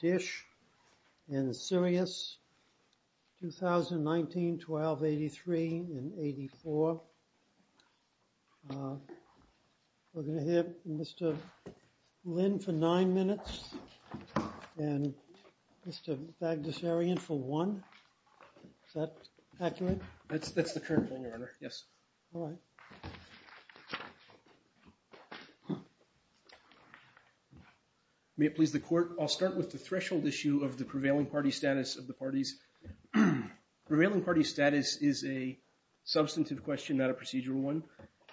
DISH and Sirius 2019-12-83 and 84. We're going to hear Mr. Lin for nine minutes and Mr. Fagdasarian for one. Is that accurate? That's the current one, Your Honor. Yes. All right. May it please the Court. I'll start with the threshold issue of the prevailing party status of the parties. Prevailing party status is a substantive question, not a procedural one.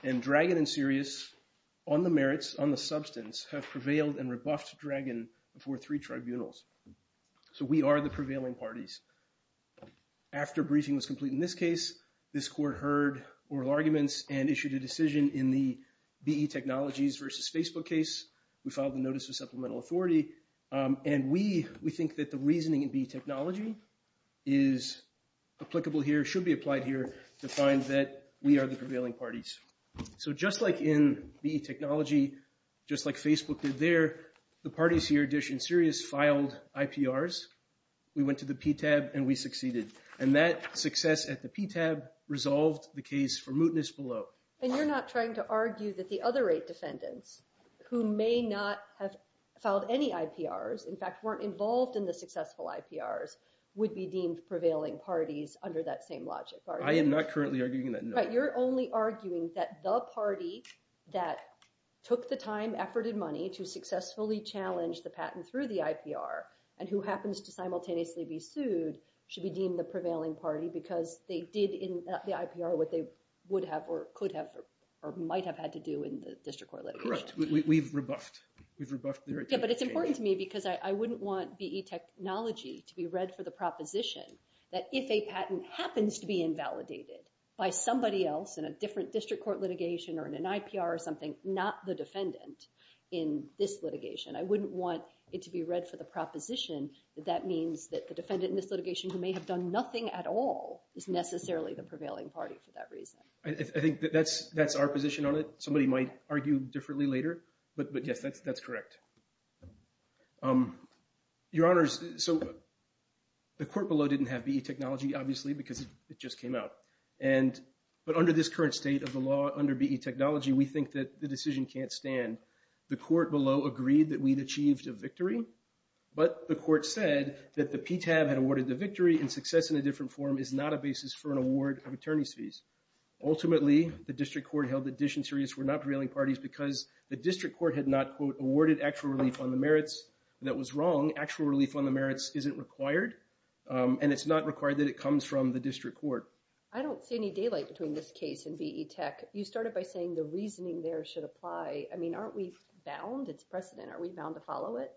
And Dragon and Sirius, on the merits, on the substance, have prevailed and rebuffed Dragon before three tribunals. So we are the prevailing parties. After briefing was complete in this case, this Court heard oral arguments and issued a decision in the BE Technologies versus Facebook case. We filed the notice of supplemental authority. And we think that the reasoning in BE Technology is applicable here, should be applied here, to find that we are the prevailing parties. So just like in BE Technology, just like Facebook did there, the parties here, DISH and Sirius, filed IPRs. We went to the PTAB and we succeeded. And that success at the PTAB resolved the case for mootness below. And you're not trying to argue that the other eight defendants who may not have filed any IPRs, in fact, weren't involved in the successful IPRs, would be deemed prevailing parties under that same logic, are you? I am not currently arguing that, no. Right, you're only arguing that the party that took the time, effort, and money to successfully challenge the patent through the IPR and who happens to simultaneously be sued should be deemed the prevailing party because they did in the IPR what they would have or could have or might have had to do in the district court litigation. Correct, we've rebuffed their attempt. Yeah, but it's important to me because I wouldn't want BE Technology to be read for the proposition that if a patent happens to be invalidated by somebody else in a different district court litigation or in an IPR or something, not the defendant in this litigation. I wouldn't want it to be read for the proposition that that means that the defendant in this litigation who may have done nothing at all is necessarily the prevailing party for that reason. I think that's our position on it. Somebody might argue differently later, but yes, that's correct. Your Honors, so the court below didn't have BE Technology, obviously, because it just came out. But under this current state of the law, under BE Technology, we think that the decision can't stand. The court below agreed that we'd achieved a victory, but the court said that the PTAB had awarded the victory and success in a different form is not a basis for an award of attorney's fees. Ultimately, the district court held that Dish and Sirius were not prevailing parties because the district court had not, quote, awarded actual relief on the merits. That was wrong. Actual relief on the merits isn't required, and it's not required that it comes from the district court. I don't see any daylight between this case and BE Tech. You started by saying the reasoning there should apply. I mean, aren't we bound? It's precedent. Are we bound to follow it?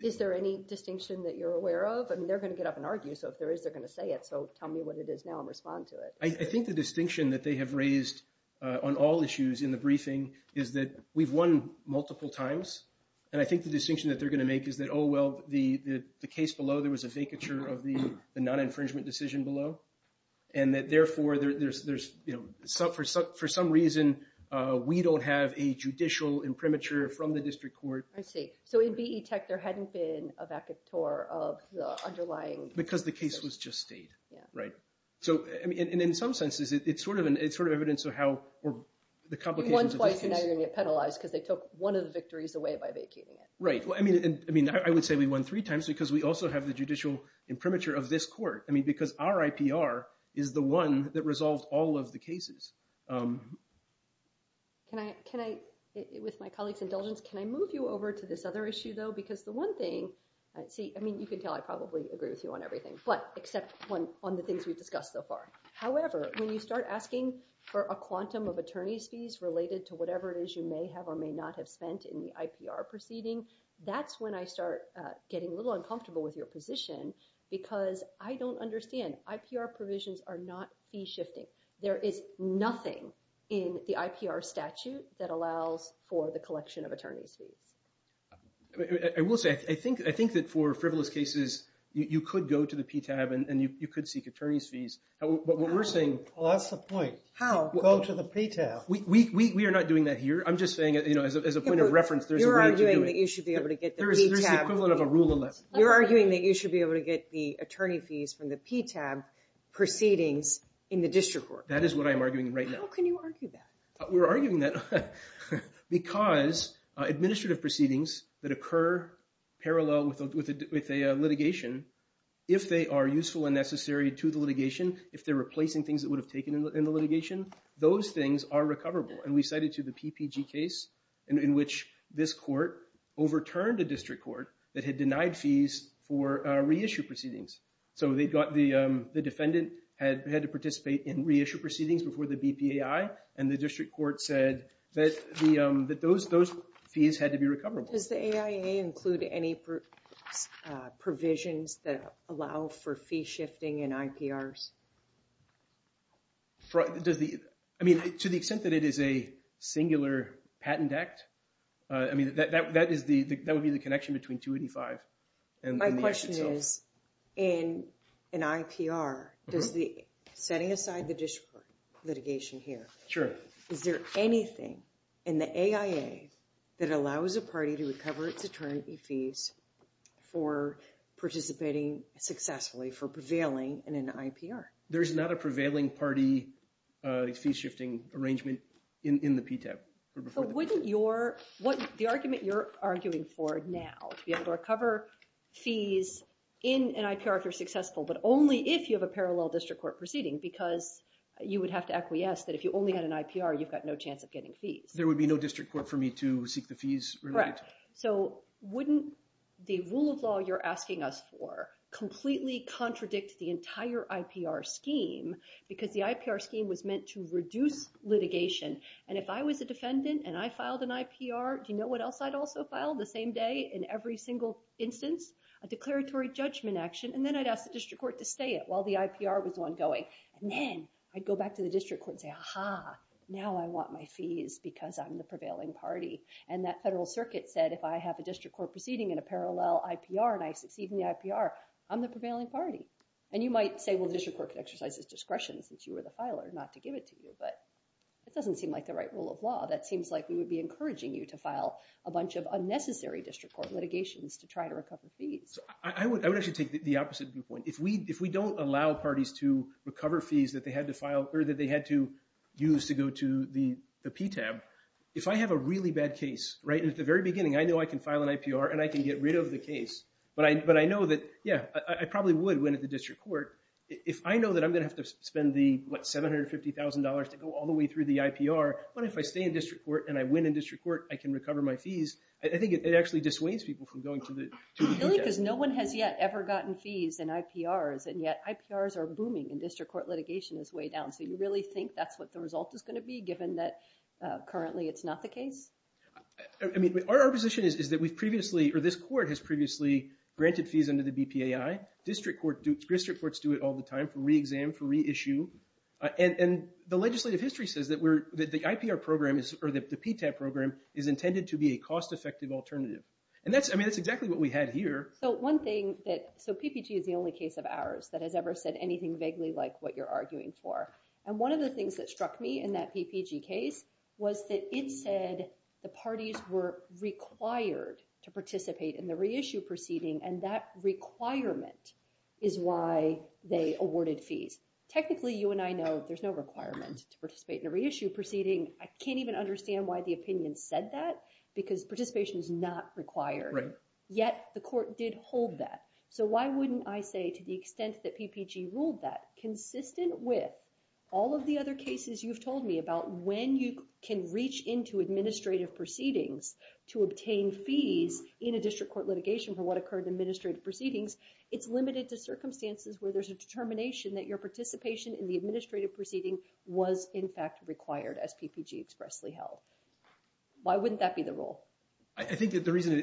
Is there any distinction that you're aware of? I mean, they're going to get up and argue. So if there is, they're going to say it. So tell me what it is now and respond to it. I think the distinction that they have raised on all issues in the briefing is that we've won multiple times, and I think the distinction that they're going to make is that, oh, well, the case below, there was a vacature of the non-infringement decision below, and that, therefore, for some reason, we don't have a judicial imprimatur from the district court. I see. So in BE Tech, there hadn't been a vacatur of the underlying... Because the case was just stayed, right? So, I mean, in some senses, it's sort of evidence of how the complications of this case... You won twice, and now you're going to get penalized because they took one of the victories away by vacating it. Right. Well, I mean, I would say we won three times because we also have the judicial imprimatur of this court. I mean, because our IPR is the one that resolved all of the cases. Can I, with my colleague's indulgence, can I move you over to this other issue, though? Because the one thing, see, I mean, you can tell I probably agree with you on everything, but except on the things we've discussed so far. However, when you start asking for a quantum of attorney's fees related to whatever it is you may have or may not have spent in the IPR proceeding, that's when I start getting a little uncomfortable with your position because I don't understand. IPR provisions are not fee shifting. There is nothing in the IPR statute that allows for the collection of attorney's fees. I will say, I think that for frivolous cases, you could go to the PTAB and you could seek attorney's fees. But what we're saying... Well, that's the point. How? Go to the PTAB. We are not doing that here. I'm just saying, you know, as a point of reference, there's a way to do it. You're arguing that you should be able to get the PTAB... There's the equivalent of a rule of left. You're arguing that you should be able to get the attorney fees from the PTAB proceedings in the district court. That is what I am arguing right now. How can you argue that? We're arguing that because administrative proceedings that occur parallel with a litigation, if they are useful and necessary to the litigation, if they're replacing things that would have taken in the litigation, those things are recoverable. And we cited to the PPG case in which this court overturned a district court that had denied fees for reissue proceedings. So they got the defendant had to participate in reissue proceedings before the BPAI and the district court said that those fees had to be recoverable. Does the AIA include any provisions that allow for fee shifting in IPRs? I mean, to the extent that it is a singular patent act, I mean, that would be the connection between 285 and the act itself. My question is, in an IPR, does the setting aside the district litigation here, is there anything in the AIA that allows a party to recover its attorney fees for participating successfully for prevailing in an IPR? There's not a prevailing party fee shifting arrangement in the PTAB. But wouldn't your, what the argument you're arguing for now, to be able to recover fees in an IPR if you're successful, but only if you have a parallel district court proceeding because you would have to acquiesce that if you only had an IPR, you've got no chance of getting fees. There would be no district court for me to seek the fees related to it. So wouldn't the rule of law you're asking us for completely contradict the entire IPR scheme because the IPR scheme was meant to reduce litigation. And if I was a defendant and I filed an IPR, do you know what else I'd also file the same day in every single instance? A declaratory judgment action. And then I'd ask the district court to stay it while the IPR was ongoing. And then I'd go back to the district court and say, aha, now I want my fees because I'm the prevailing party. And that federal circuit said if I have a district court proceeding in a parallel IPR and I succeed in the IPR, I'm the prevailing party. And you might say, well, the district court could exercise its discretion since you were the filer not to give it to you. But it doesn't seem like the right rule of law. That seems like we would be encouraging you to file a bunch of unnecessary district court litigations to try to recover fees. I would actually take the opposite viewpoint. If we don't allow parties to recover fees that they had to use to go to the PTAB, if I have a really bad case, right? And at the very beginning, I know I can file an IPR and I can get rid of the case. But I know that, yeah, I probably would win at the district court. If I know that I'm going to have to spend the, what, $750,000 to go all the way through the IPR, what if I stay in district court and I win in district court, I can recover my fees? I think it actually dissuades people from going to the PTAB. Really, because no one has yet ever gotten fees in IPRs, and yet IPRs are booming and district court litigation is way down. So you really think that's what the result is going to be, given that currently it's not the case? I mean, our position is that we've previously, or this court has previously granted fees under the BPAI. District courts do it all the time, for re-exam, for re-issue. And the legislative history says that the IPR program, or the PTAB program, is intended to be a cost-effective alternative. And that's, I mean, that's exactly what we had here. So one thing that, so PPG is the only case of ours that has ever said anything vaguely like what you're arguing for. And one of the things that struck me in that PPG case was that it said the parties were required to participate in the re-issue proceeding, and that requirement is why they awarded fees. Technically, you and I know there's no requirement to participate in a re-issue proceeding. I can't even understand why the opinion said that, because participation is not required. Yet, the court did hold that. So why wouldn't I say, to the extent that PPG ruled that, consistent with all of the other cases you've told me about when you can reach into administrative proceedings to obtain fees in a district court litigation for what occurred in administrative proceedings, it's limited to circumstances where there's a determination that your participation in the administrative proceeding was, in fact, required, as PPG expressly held. Why wouldn't that be the rule? I think that the reason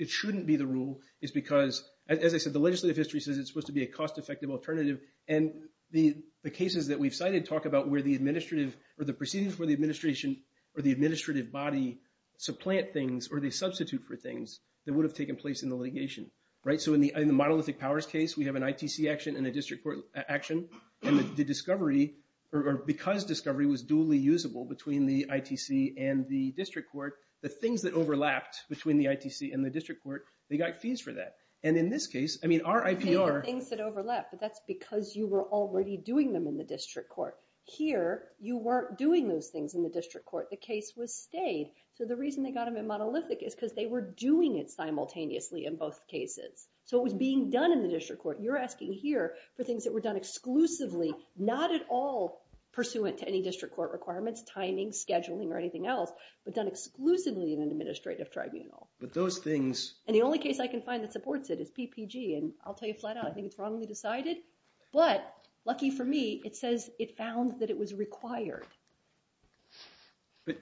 it shouldn't be the rule is because, as I said, the legislative history says it's supposed to be a cost-effective alternative, and the cases that we've cited talk about where the administrative, or the proceedings for the administration, or the administrative body supplant things or they substitute for things that would have taken place in the litigation. So in the monolithic powers case, we have an ITC action and a district court action, and the discovery, or because discovery was duly usable between the ITC and the district court, the things that overlapped between the ITC and the district court, they got fees for that. And in this case, I mean, our IPR... Things that overlap, but that's because you were already doing them in the district court. Here, you weren't doing those things in the district court. The case was stayed. So the reason they got them in monolithic is because they were doing it simultaneously in both cases. So it was being done in the district court. You're asking here for things that were done exclusively, not at all pursuant to any district court requirements, timing, scheduling, or anything else, but done exclusively in an administrative tribunal. But those things... And the only case I can find that supports it is PPG, and I'll tell you flat out, I think it's wrongly decided. But lucky for me, it says it found that it was required. But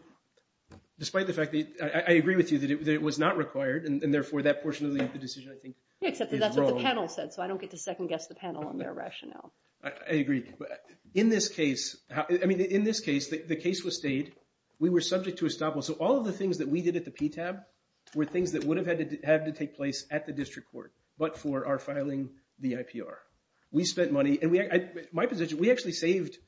despite the fact that... I agree with you that it was not required, and therefore that portion of the decision, I think, is wrong. Yeah, except that's what the panel said, so I don't get to second-guess the panel on their rationale. I agree. In this case, I mean, in this case, the case was stayed. We were subject to estoppel. So all of the things that we did at the PTAB were things that would have had to take place at the district court, but for our filing the IPR. We spent money, and my position, we actually saved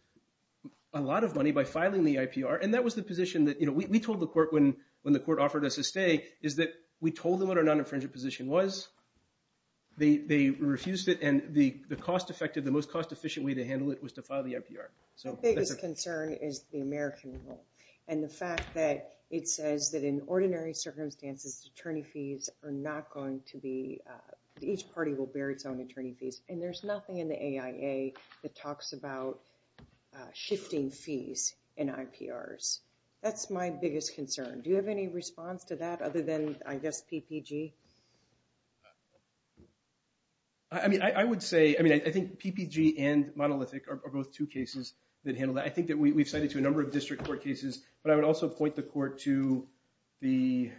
a lot of money by filing the IPR, and that was the position that... We told the court when the court offered us a stay is that we told them what our non-infringement position was. They refused it, and the cost-effective, the most cost-efficient way to handle it was to file the IPR. My biggest concern is the American rule, and the fact that it says that in ordinary circumstances, attorney fees are not going to be... Each party will bear its own attorney fees, and there's nothing in the AIA that talks about shifting fees in IPRs. That's my biggest concern. Do you have any response to that, other than, I guess, PPG? I mean, I would say, I mean, I think PPG and monolithic are both two cases that handle that. I think that we've cited to a number of district court cases, but I would also point the court to the...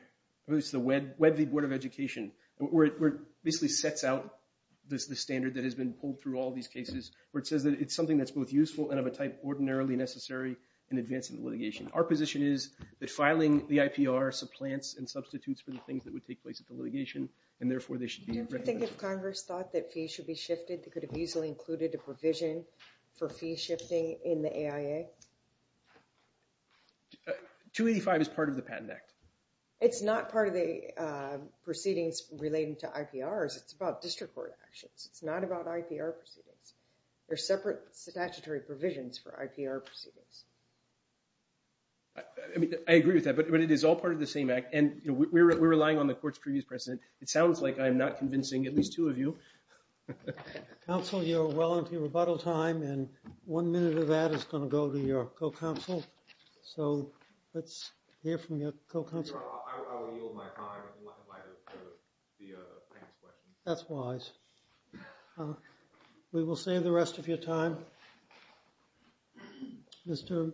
I believe it's the WEDV Board of Education, where it basically sets out the standard that has been pulled through all these cases, where it says that it's something that's both useful and of a type ordinarily necessary in advancing the litigation. Our position is that filing the IPR supplants and substitutes for the things that would take place at the litigation, and therefore, they should be recommended. I don't think if Congress thought that fees should be shifted, it could have easily included a provision for fee shifting in the AIA. 285 is part of the Patent Act. It's not part of the proceedings relating to IPRs. It's about district court actions. It's not about IPR proceedings. They're separate statutory provisions for IPR proceedings. I mean, I agree with that, but it is all part of the same act, and we're relying on the court's previous precedent. It sounds like I'm not convincing at least two of you. Counsel, you're well into your rebuttal time, and one minute of that is gonna go to your co-counsel, so let's hear from your co-counsel. I will yield my time in light of the thanks question. That's wise. We will save the rest of your time. Mr.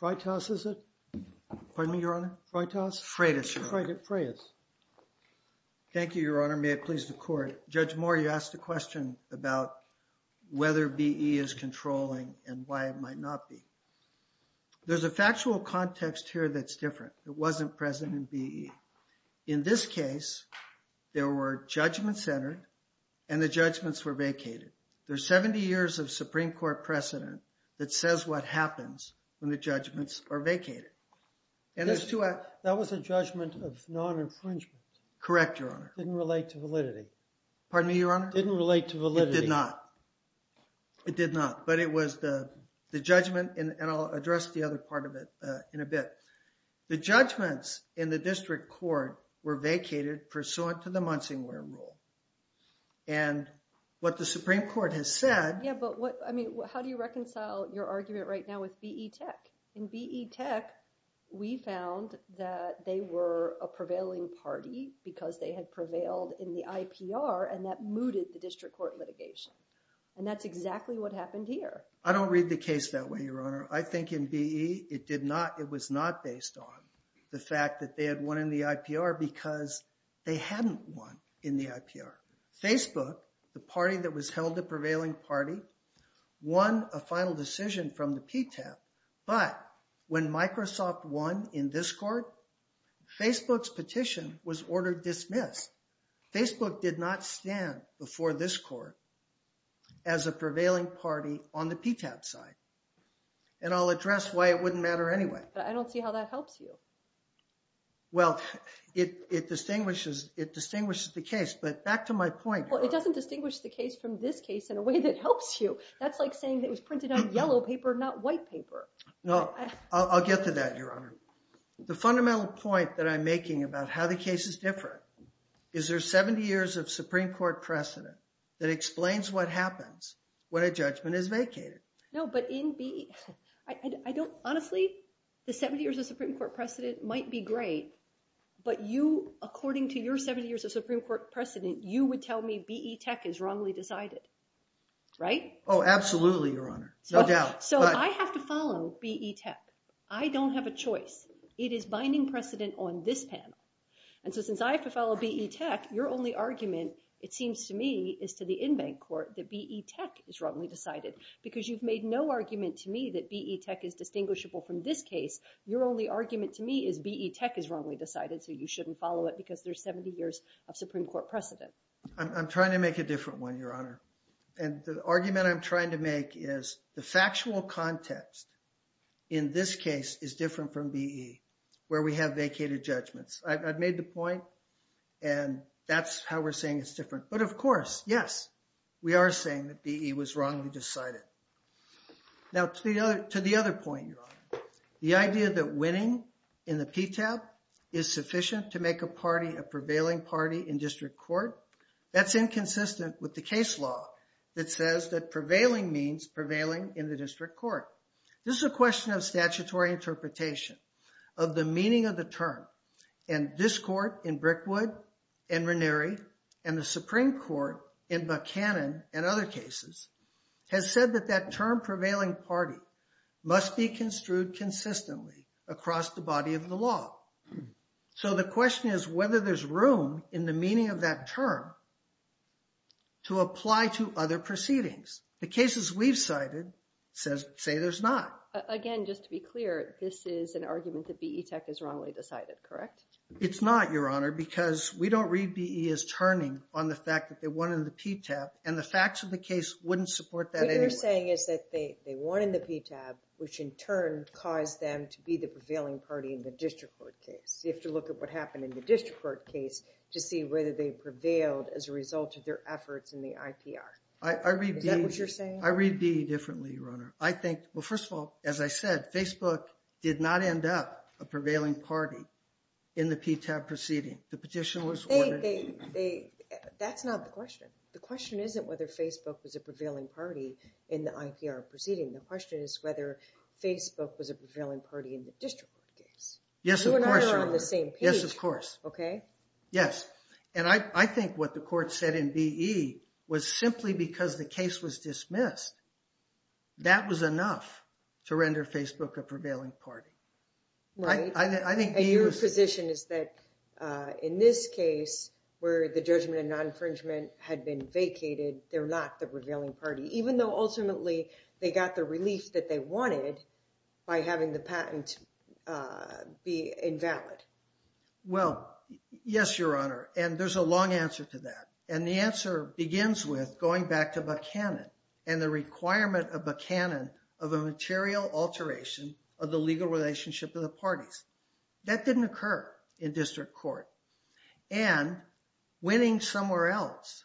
Freitas, is it? Pardon me, Your Honor? Freitas? Freitas, Your Honor. Freitas. Thank you, Your Honor. May it please the court. Judge Moore, you asked a question about whether BE is controlling and why it might not be. There's a factual context here that's different. It wasn't present in BE. In this case, there were judgments entered, and the judgments were vacated. There's 70 years of Supreme Court precedent that says what happens when the judgments are vacated. That was a judgment of non-infringement. Correct, Your Honor. Didn't relate to validity. Pardon me, Your Honor? Didn't relate to validity. It did not. It did not, but it was the judgment, and I'll address the other part of it in a bit. The judgments in the district court were vacated pursuant to the Munsingware rule, and what the Supreme Court has said... Yeah, but what, I mean, how do you reconcile your argument right now with BE Tech? In BE Tech, we found that they were a prevailing party because they had prevailed in the IPR, and that mooted the district court litigation, and that's exactly what happened here. I don't read the case that way, Your Honor. I think in BE, it was not based on the fact that they had won in the IPR because they hadn't won in the IPR. Facebook, the party that was held a prevailing party, won a final decision from the PTAP, but when Microsoft won in this court, Facebook's petition was ordered dismissed. Facebook did not stand before this court as a prevailing party on the PTAP side, and I'll address why it wouldn't matter anyway. But I don't see how that helps you. Well, it distinguishes the case, but back to my point... Well, it doesn't distinguish the case from this case in a way that helps you. That's like saying it was printed on yellow paper, not white paper. No, I'll get to that, Your Honor. The fundamental point that I'm making about how the cases differ, is there 70 years of Supreme Court precedent that explains what happens when a judgment is vacated? No, but in BE, I don't... Honestly, the 70 years of Supreme Court precedent might be great, but you, according to your 70 years of Supreme Court precedent, you would tell me BE Tech is wrongly decided, right? Oh, absolutely, Your Honor, no doubt. So I have to follow BE Tech. I don't have a choice. It is binding precedent on this panel. And so since I have to follow BE Tech, your only argument, it seems to me, is to the in-bank court that BE Tech is wrongly decided. Because you've made no argument to me that BE Tech is distinguishable from this case. Your only argument to me is BE Tech is wrongly decided, so you shouldn't follow it, because there's 70 years of Supreme Court precedent. I'm trying to make a different one, Your Honor. And the argument I'm trying to make is the factual context in this case is different from BE, where we have vacated judgments. I've made the point, and that's how we're saying it's different. But of course, yes, we are saying that BE was wrongly decided. Now, to the other point, Your Honor, the idea that winning in the PTAB is sufficient to make a party a prevailing party in district court, that's inconsistent with the case law that says that prevailing means prevailing in the district court. This is a question of statutory interpretation of the meaning of the term. And this court in Brickwood and Ranieri and the Supreme Court in Buchanan and other cases has said that that term prevailing party must be construed consistently across the body of the law. So the question is whether there's room in the meaning of that term to apply to other proceedings. The cases we've cited say there's not. Again, just to be clear, this is an argument that BE Tech is wrongly decided, correct? It's not, Your Honor, because we don't read BE as turning on the fact that they won in the PTAB, and the facts of the case wouldn't support that anyway. What you're saying is that they won in the PTAB, which in turn caused them to be the prevailing party in the district court case. You have to look at what happened in the district court case to see whether they prevailed as a result of their efforts in the IPR. Is that what you're saying? I read BE differently, Your Honor. I think, well, first of all, as I said, Facebook did not end up a prevailing party in the PTAB proceeding. The petition was ordered. That's not the question. The question isn't whether Facebook was a prevailing party in the IPR proceeding. The question is whether Facebook was a prevailing party in the district court case. Yes, of course, Your Honor. You and I are on the same page, okay? Yes, and I think what the court said in BE was simply because the case was dismissed, that was enough to render Facebook a prevailing party. Right, and your position is that in this case, where the judgment and non-infringement had been vacated, they're not the prevailing party, even though ultimately they got the relief that they wanted by having the patent be invalid. Well, yes, Your Honor, and there's a long answer to that, and the answer begins with going back to Buchanan and the requirement of Buchanan of a material alteration of the legal relationship of the parties. That didn't occur in district court, and winning somewhere else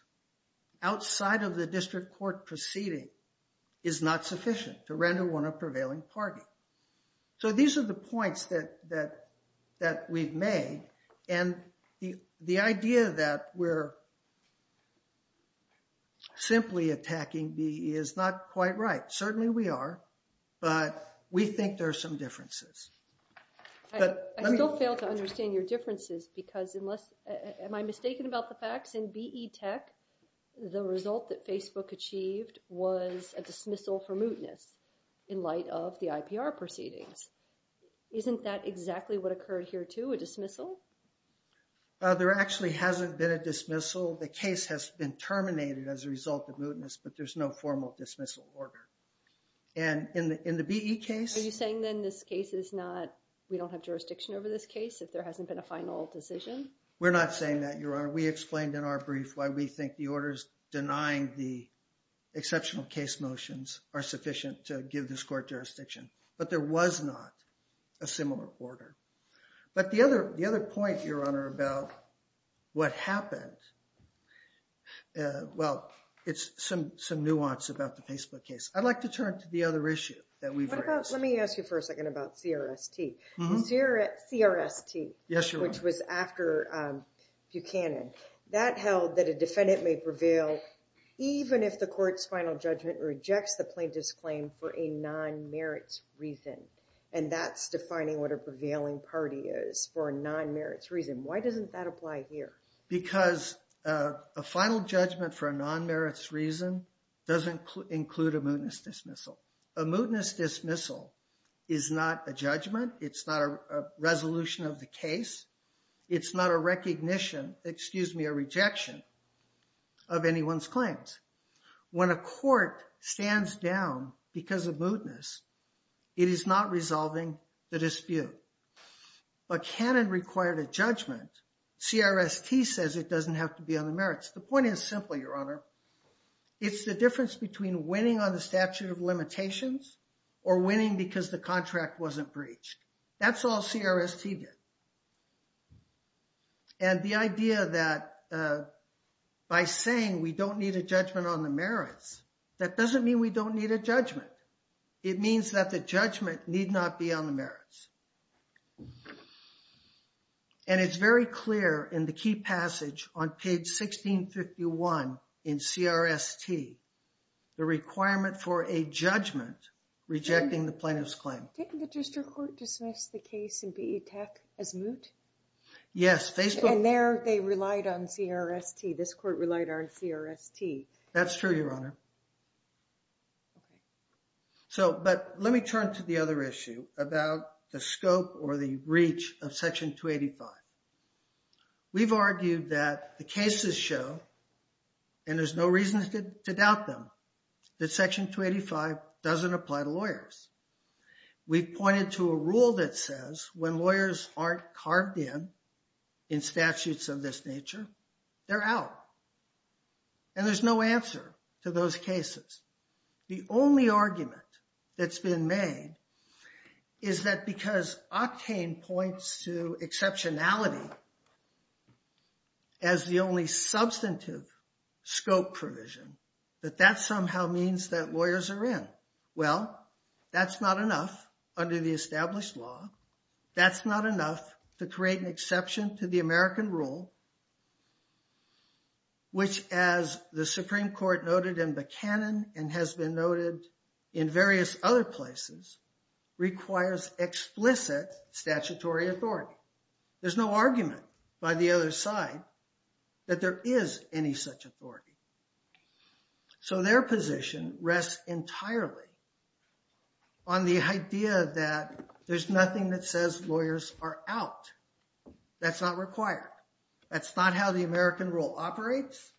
outside of the district court proceeding is not sufficient to render one a prevailing party. So these are the points that we've made, and the idea that we're simply attacking BE is not quite right. Certainly we are, but we think there are some differences. I still fail to understand your differences because am I mistaken about the facts? In BE Tech, the result that Facebook achieved was a dismissal for mootness in light of the IPR proceedings. Isn't that exactly what occurred here, too, a dismissal? There actually hasn't been a dismissal. The case has been terminated as a result of mootness, but there's no formal dismissal order, and in the BE case... Are you saying, then, this case is not... We don't have jurisdiction over this case if there hasn't been a final decision? We're not saying that, Your Honor. We explained in our brief why we think the order denying the exceptional case motions are sufficient to give this court jurisdiction, but there was not a similar order. But the other point, Your Honor, about what happened... Well, it's some nuance about the Facebook case. I'd like to turn to the other issue that we've raised. Let me ask you for a second about CRST. CRST, which was after Buchanan, that held that a defendant may prevail even if the court's final judgment rejects the plaintiff's claim for a non-merits reason, and that's defining what a prevailing party is for a non-merits reason. Why doesn't that apply here? Because a final judgment for a non-merits reason doesn't include a mootness dismissal. A mootness dismissal is not a judgment. It's not a resolution of the case. It's not a recognition, excuse me, a rejection of anyone's claims. When a court stands down because of mootness, it is not resolving the dispute. Buchanan required a judgment. CRST says it doesn't have to be on the merits. The point is simply, Your Honor, it's the difference between winning on the statute of limitations or winning because the contract wasn't breached. That's all CRST did. And the idea that by saying we don't need a judgment on the merits, that doesn't mean we don't need a judgment. It means that the judgment need not be on the merits. And it's very clear in the key passage on page 1651 in CRST, the requirement for a judgment rejecting the plaintiff's claim. Didn't the district court dismiss the case in PE Tech as moot? Yes. And there they relied on CRST. This court relied on CRST. That's true, Your Honor. So, but let me turn to the other issue about the scope or the reach of Section 285. We've argued that the cases show, and there's no reason to doubt them, that Section 285 doesn't apply to lawyers. We've pointed to a rule that says when lawyers aren't carved in in statutes of this nature, they're out. And there's no answer to those cases. The only argument that's been made is that because Octane points to exceptionality as the only substantive scope provision, that that somehow means that lawyers are in. Well, that's not enough under the established law. That's not enough to create an exception to the American rule, which as the Supreme Court noted in Buchanan and has been noted in various other places, requires explicit statutory authority. There's no argument by the other side that there is any such authority. So their position rests entirely on the idea that there's nothing that says lawyers are out. That's not required. That's not how the American rule operates.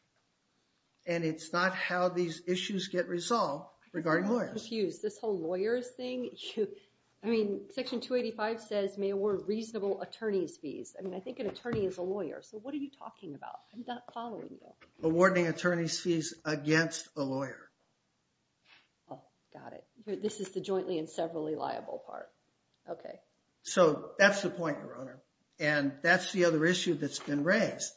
And it's not how these issues get resolved regarding lawyers. I'm confused. This whole lawyers thing. I mean, Section 285 says may award reasonable attorney's fees. I mean, I think an attorney is a lawyer. So what are you talking about? I'm not following you. Awarding attorney's fees against a lawyer. Oh, got it. This is the jointly and severally liable part. Okay. So that's the point, Your Honor. And that's the other issue that's been raised.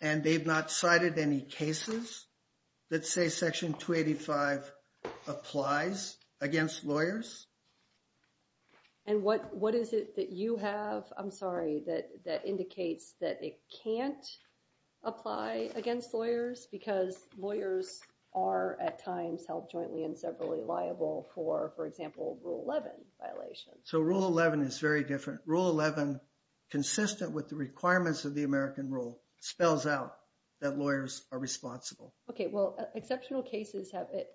And they've not cited any cases that say Section 285 applies against lawyers. And what is it that you have? I'm sorry, that indicates that it can't apply against lawyers because lawyers are at times held jointly and severally liable for, for example, Rule 11 violations. So Rule 11 is very different. Rule 11, consistent with the requirements of the American rule, spells out that lawyers are responsible. Okay. Well, exceptional cases have it.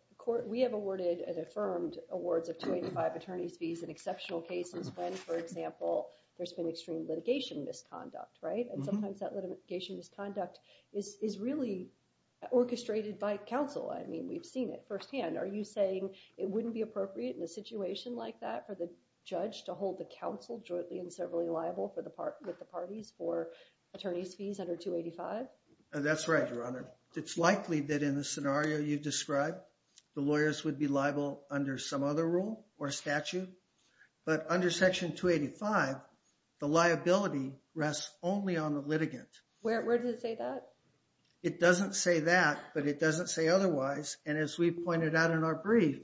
We have awarded and affirmed awards of 285 attorney's fees in exceptional cases when, for example, there's been extreme litigation misconduct, right? And sometimes that litigation misconduct is really orchestrated by counsel. I mean, we've seen it firsthand. Are you saying it wouldn't be appropriate in a situation like that for the judge to hold the counsel jointly and severally liable for the part, with the parties for attorney's fees under 285? That's right, Your Honor. It's likely that in the scenario you've described, the lawyers would be liable under some other rule or statute. But under Section 285, the liability rests only on the litigant. Where, where does it say that? It doesn't say that, but it doesn't say otherwise. And as we pointed out in our brief,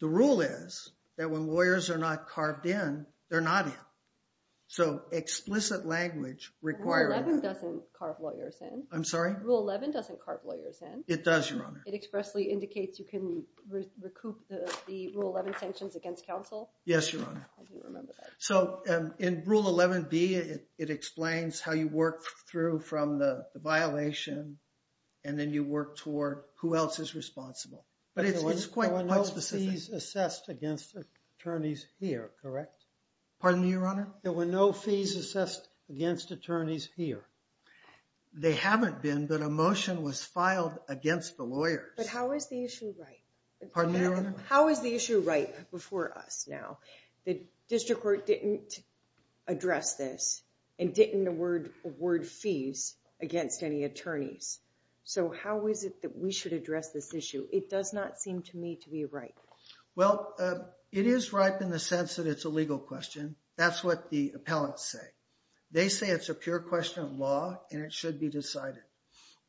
the rule is that when lawyers are not carved in, they're not in. So explicit language requires... Rule 11 doesn't carve lawyers in. I'm sorry? Rule 11 doesn't carve lawyers in. It does, Your Honor. It expressly indicates you can recoup the Rule 11 sanctions against counsel? Yes, Your Honor. I didn't remember that. So in Rule 11B, it explains how you work through from the violation and then you work toward who else is responsible. But it's quite specific. There were no fees assessed against attorneys here, correct? Pardon me, Your Honor? There were no fees assessed against attorneys here. They haven't been, but a motion was filed against the lawyers. But how is the issue right? Pardon me, Your Honor? How is the issue right before us now? The district court didn't address this and didn't award fees against any attorneys. So how is it that we should address this issue? It does not seem to me to be right. Well, it is right in the sense that it's a legal question. That's what the appellants say. They say it's a pure question of law and it should be decided.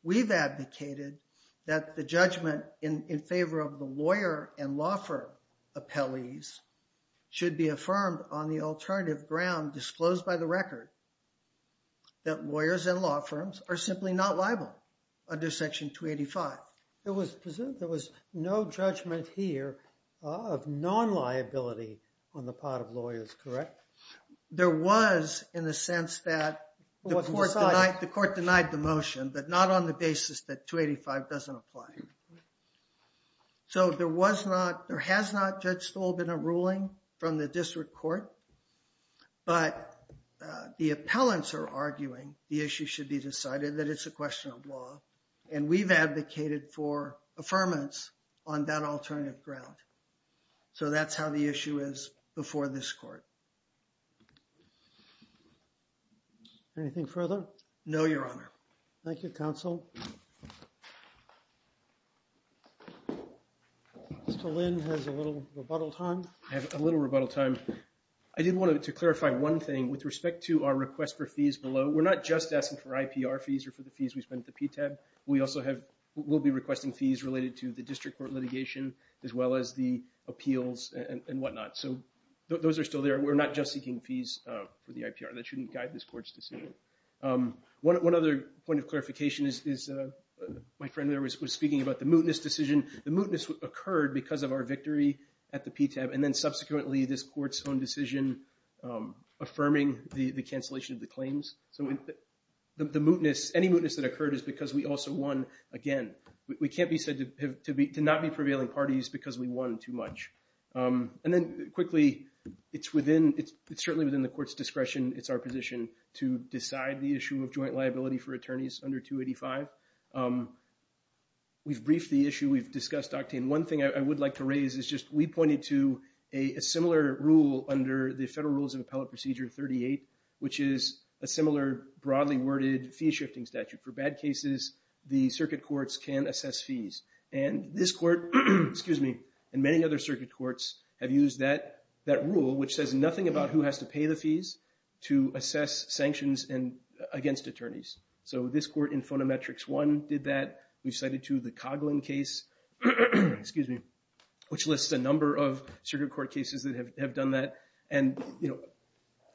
We've advocated that the judgment in favor of the lawyer and law firm appellees should be affirmed on the alternative ground disclosed by the record that lawyers and law firms are simply not liable under Section 285. It was presumed there was no judgment here of non-liability on the part of lawyers, correct? There was in the sense that the court denied the motion, but not on the basis that 285 doesn't apply. So there was not, there has not, Judge Stoll, been a ruling from the district court. But the appellants are arguing the issue should be decided, that it's a question of law. And we've advocated for affirmance on that alternative ground. So that's how the issue is before this court. Anything further? No, Your Honor. Thank you, Counsel. Mr. Lynn has a little rebuttal time. I have a little rebuttal time. I did want to clarify one thing with respect to our request for fees below. We're not just asking for IPR fees or for the fees we spent at the PTAB. We also have, we'll be requesting fees related to the district court litigation as well as the appeals and whatnot. So those are still there. We're not just seeking fees for the IPR. That shouldn't guide this court's decision. One other point of clarification is my friend there was speaking about the mootness decision. The mootness occurred because of our victory at the PTAB and then subsequently this court's own decision affirming the cancellation of the claims. So the mootness, any mootness that occurred is because we also won again. We can't be said to not be prevailing parties because we won too much. And then quickly, it's within, it's certainly within the court's discretion. It's our position to decide the issue of joint liability for attorneys under 285. We've briefed the issue. We've discussed Octane. One thing I would like to raise is just we pointed to a similar rule under the Federal Rules of Appellate Procedure 38, which is a similar broadly worded fee-shifting statute. For bad cases, the circuit courts can assess fees. And this court, excuse me, and many other circuit courts have used that rule which says nothing about who has to pay the fees to assess sanctions against attorneys. So this court in Phonometrics 1 did that. We cited too the Coghlan case, excuse me, which lists a number of circuit court cases that have done that. And, you know,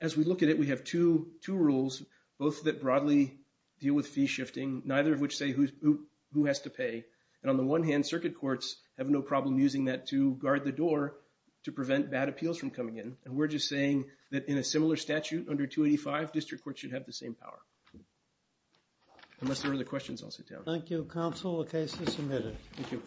as we look at it, we have two rules, both that broadly deal with fee-shifting, neither of which say who has to pay. And on the one hand, circuit courts have no problem using that to guard the door to prevent bad appeals from coming in. And we're just saying that in a similar statute under 285, district courts should have the same power. Unless there are other questions, I'll sit down. Thank you, Counsel. The case is submitted. Thank you.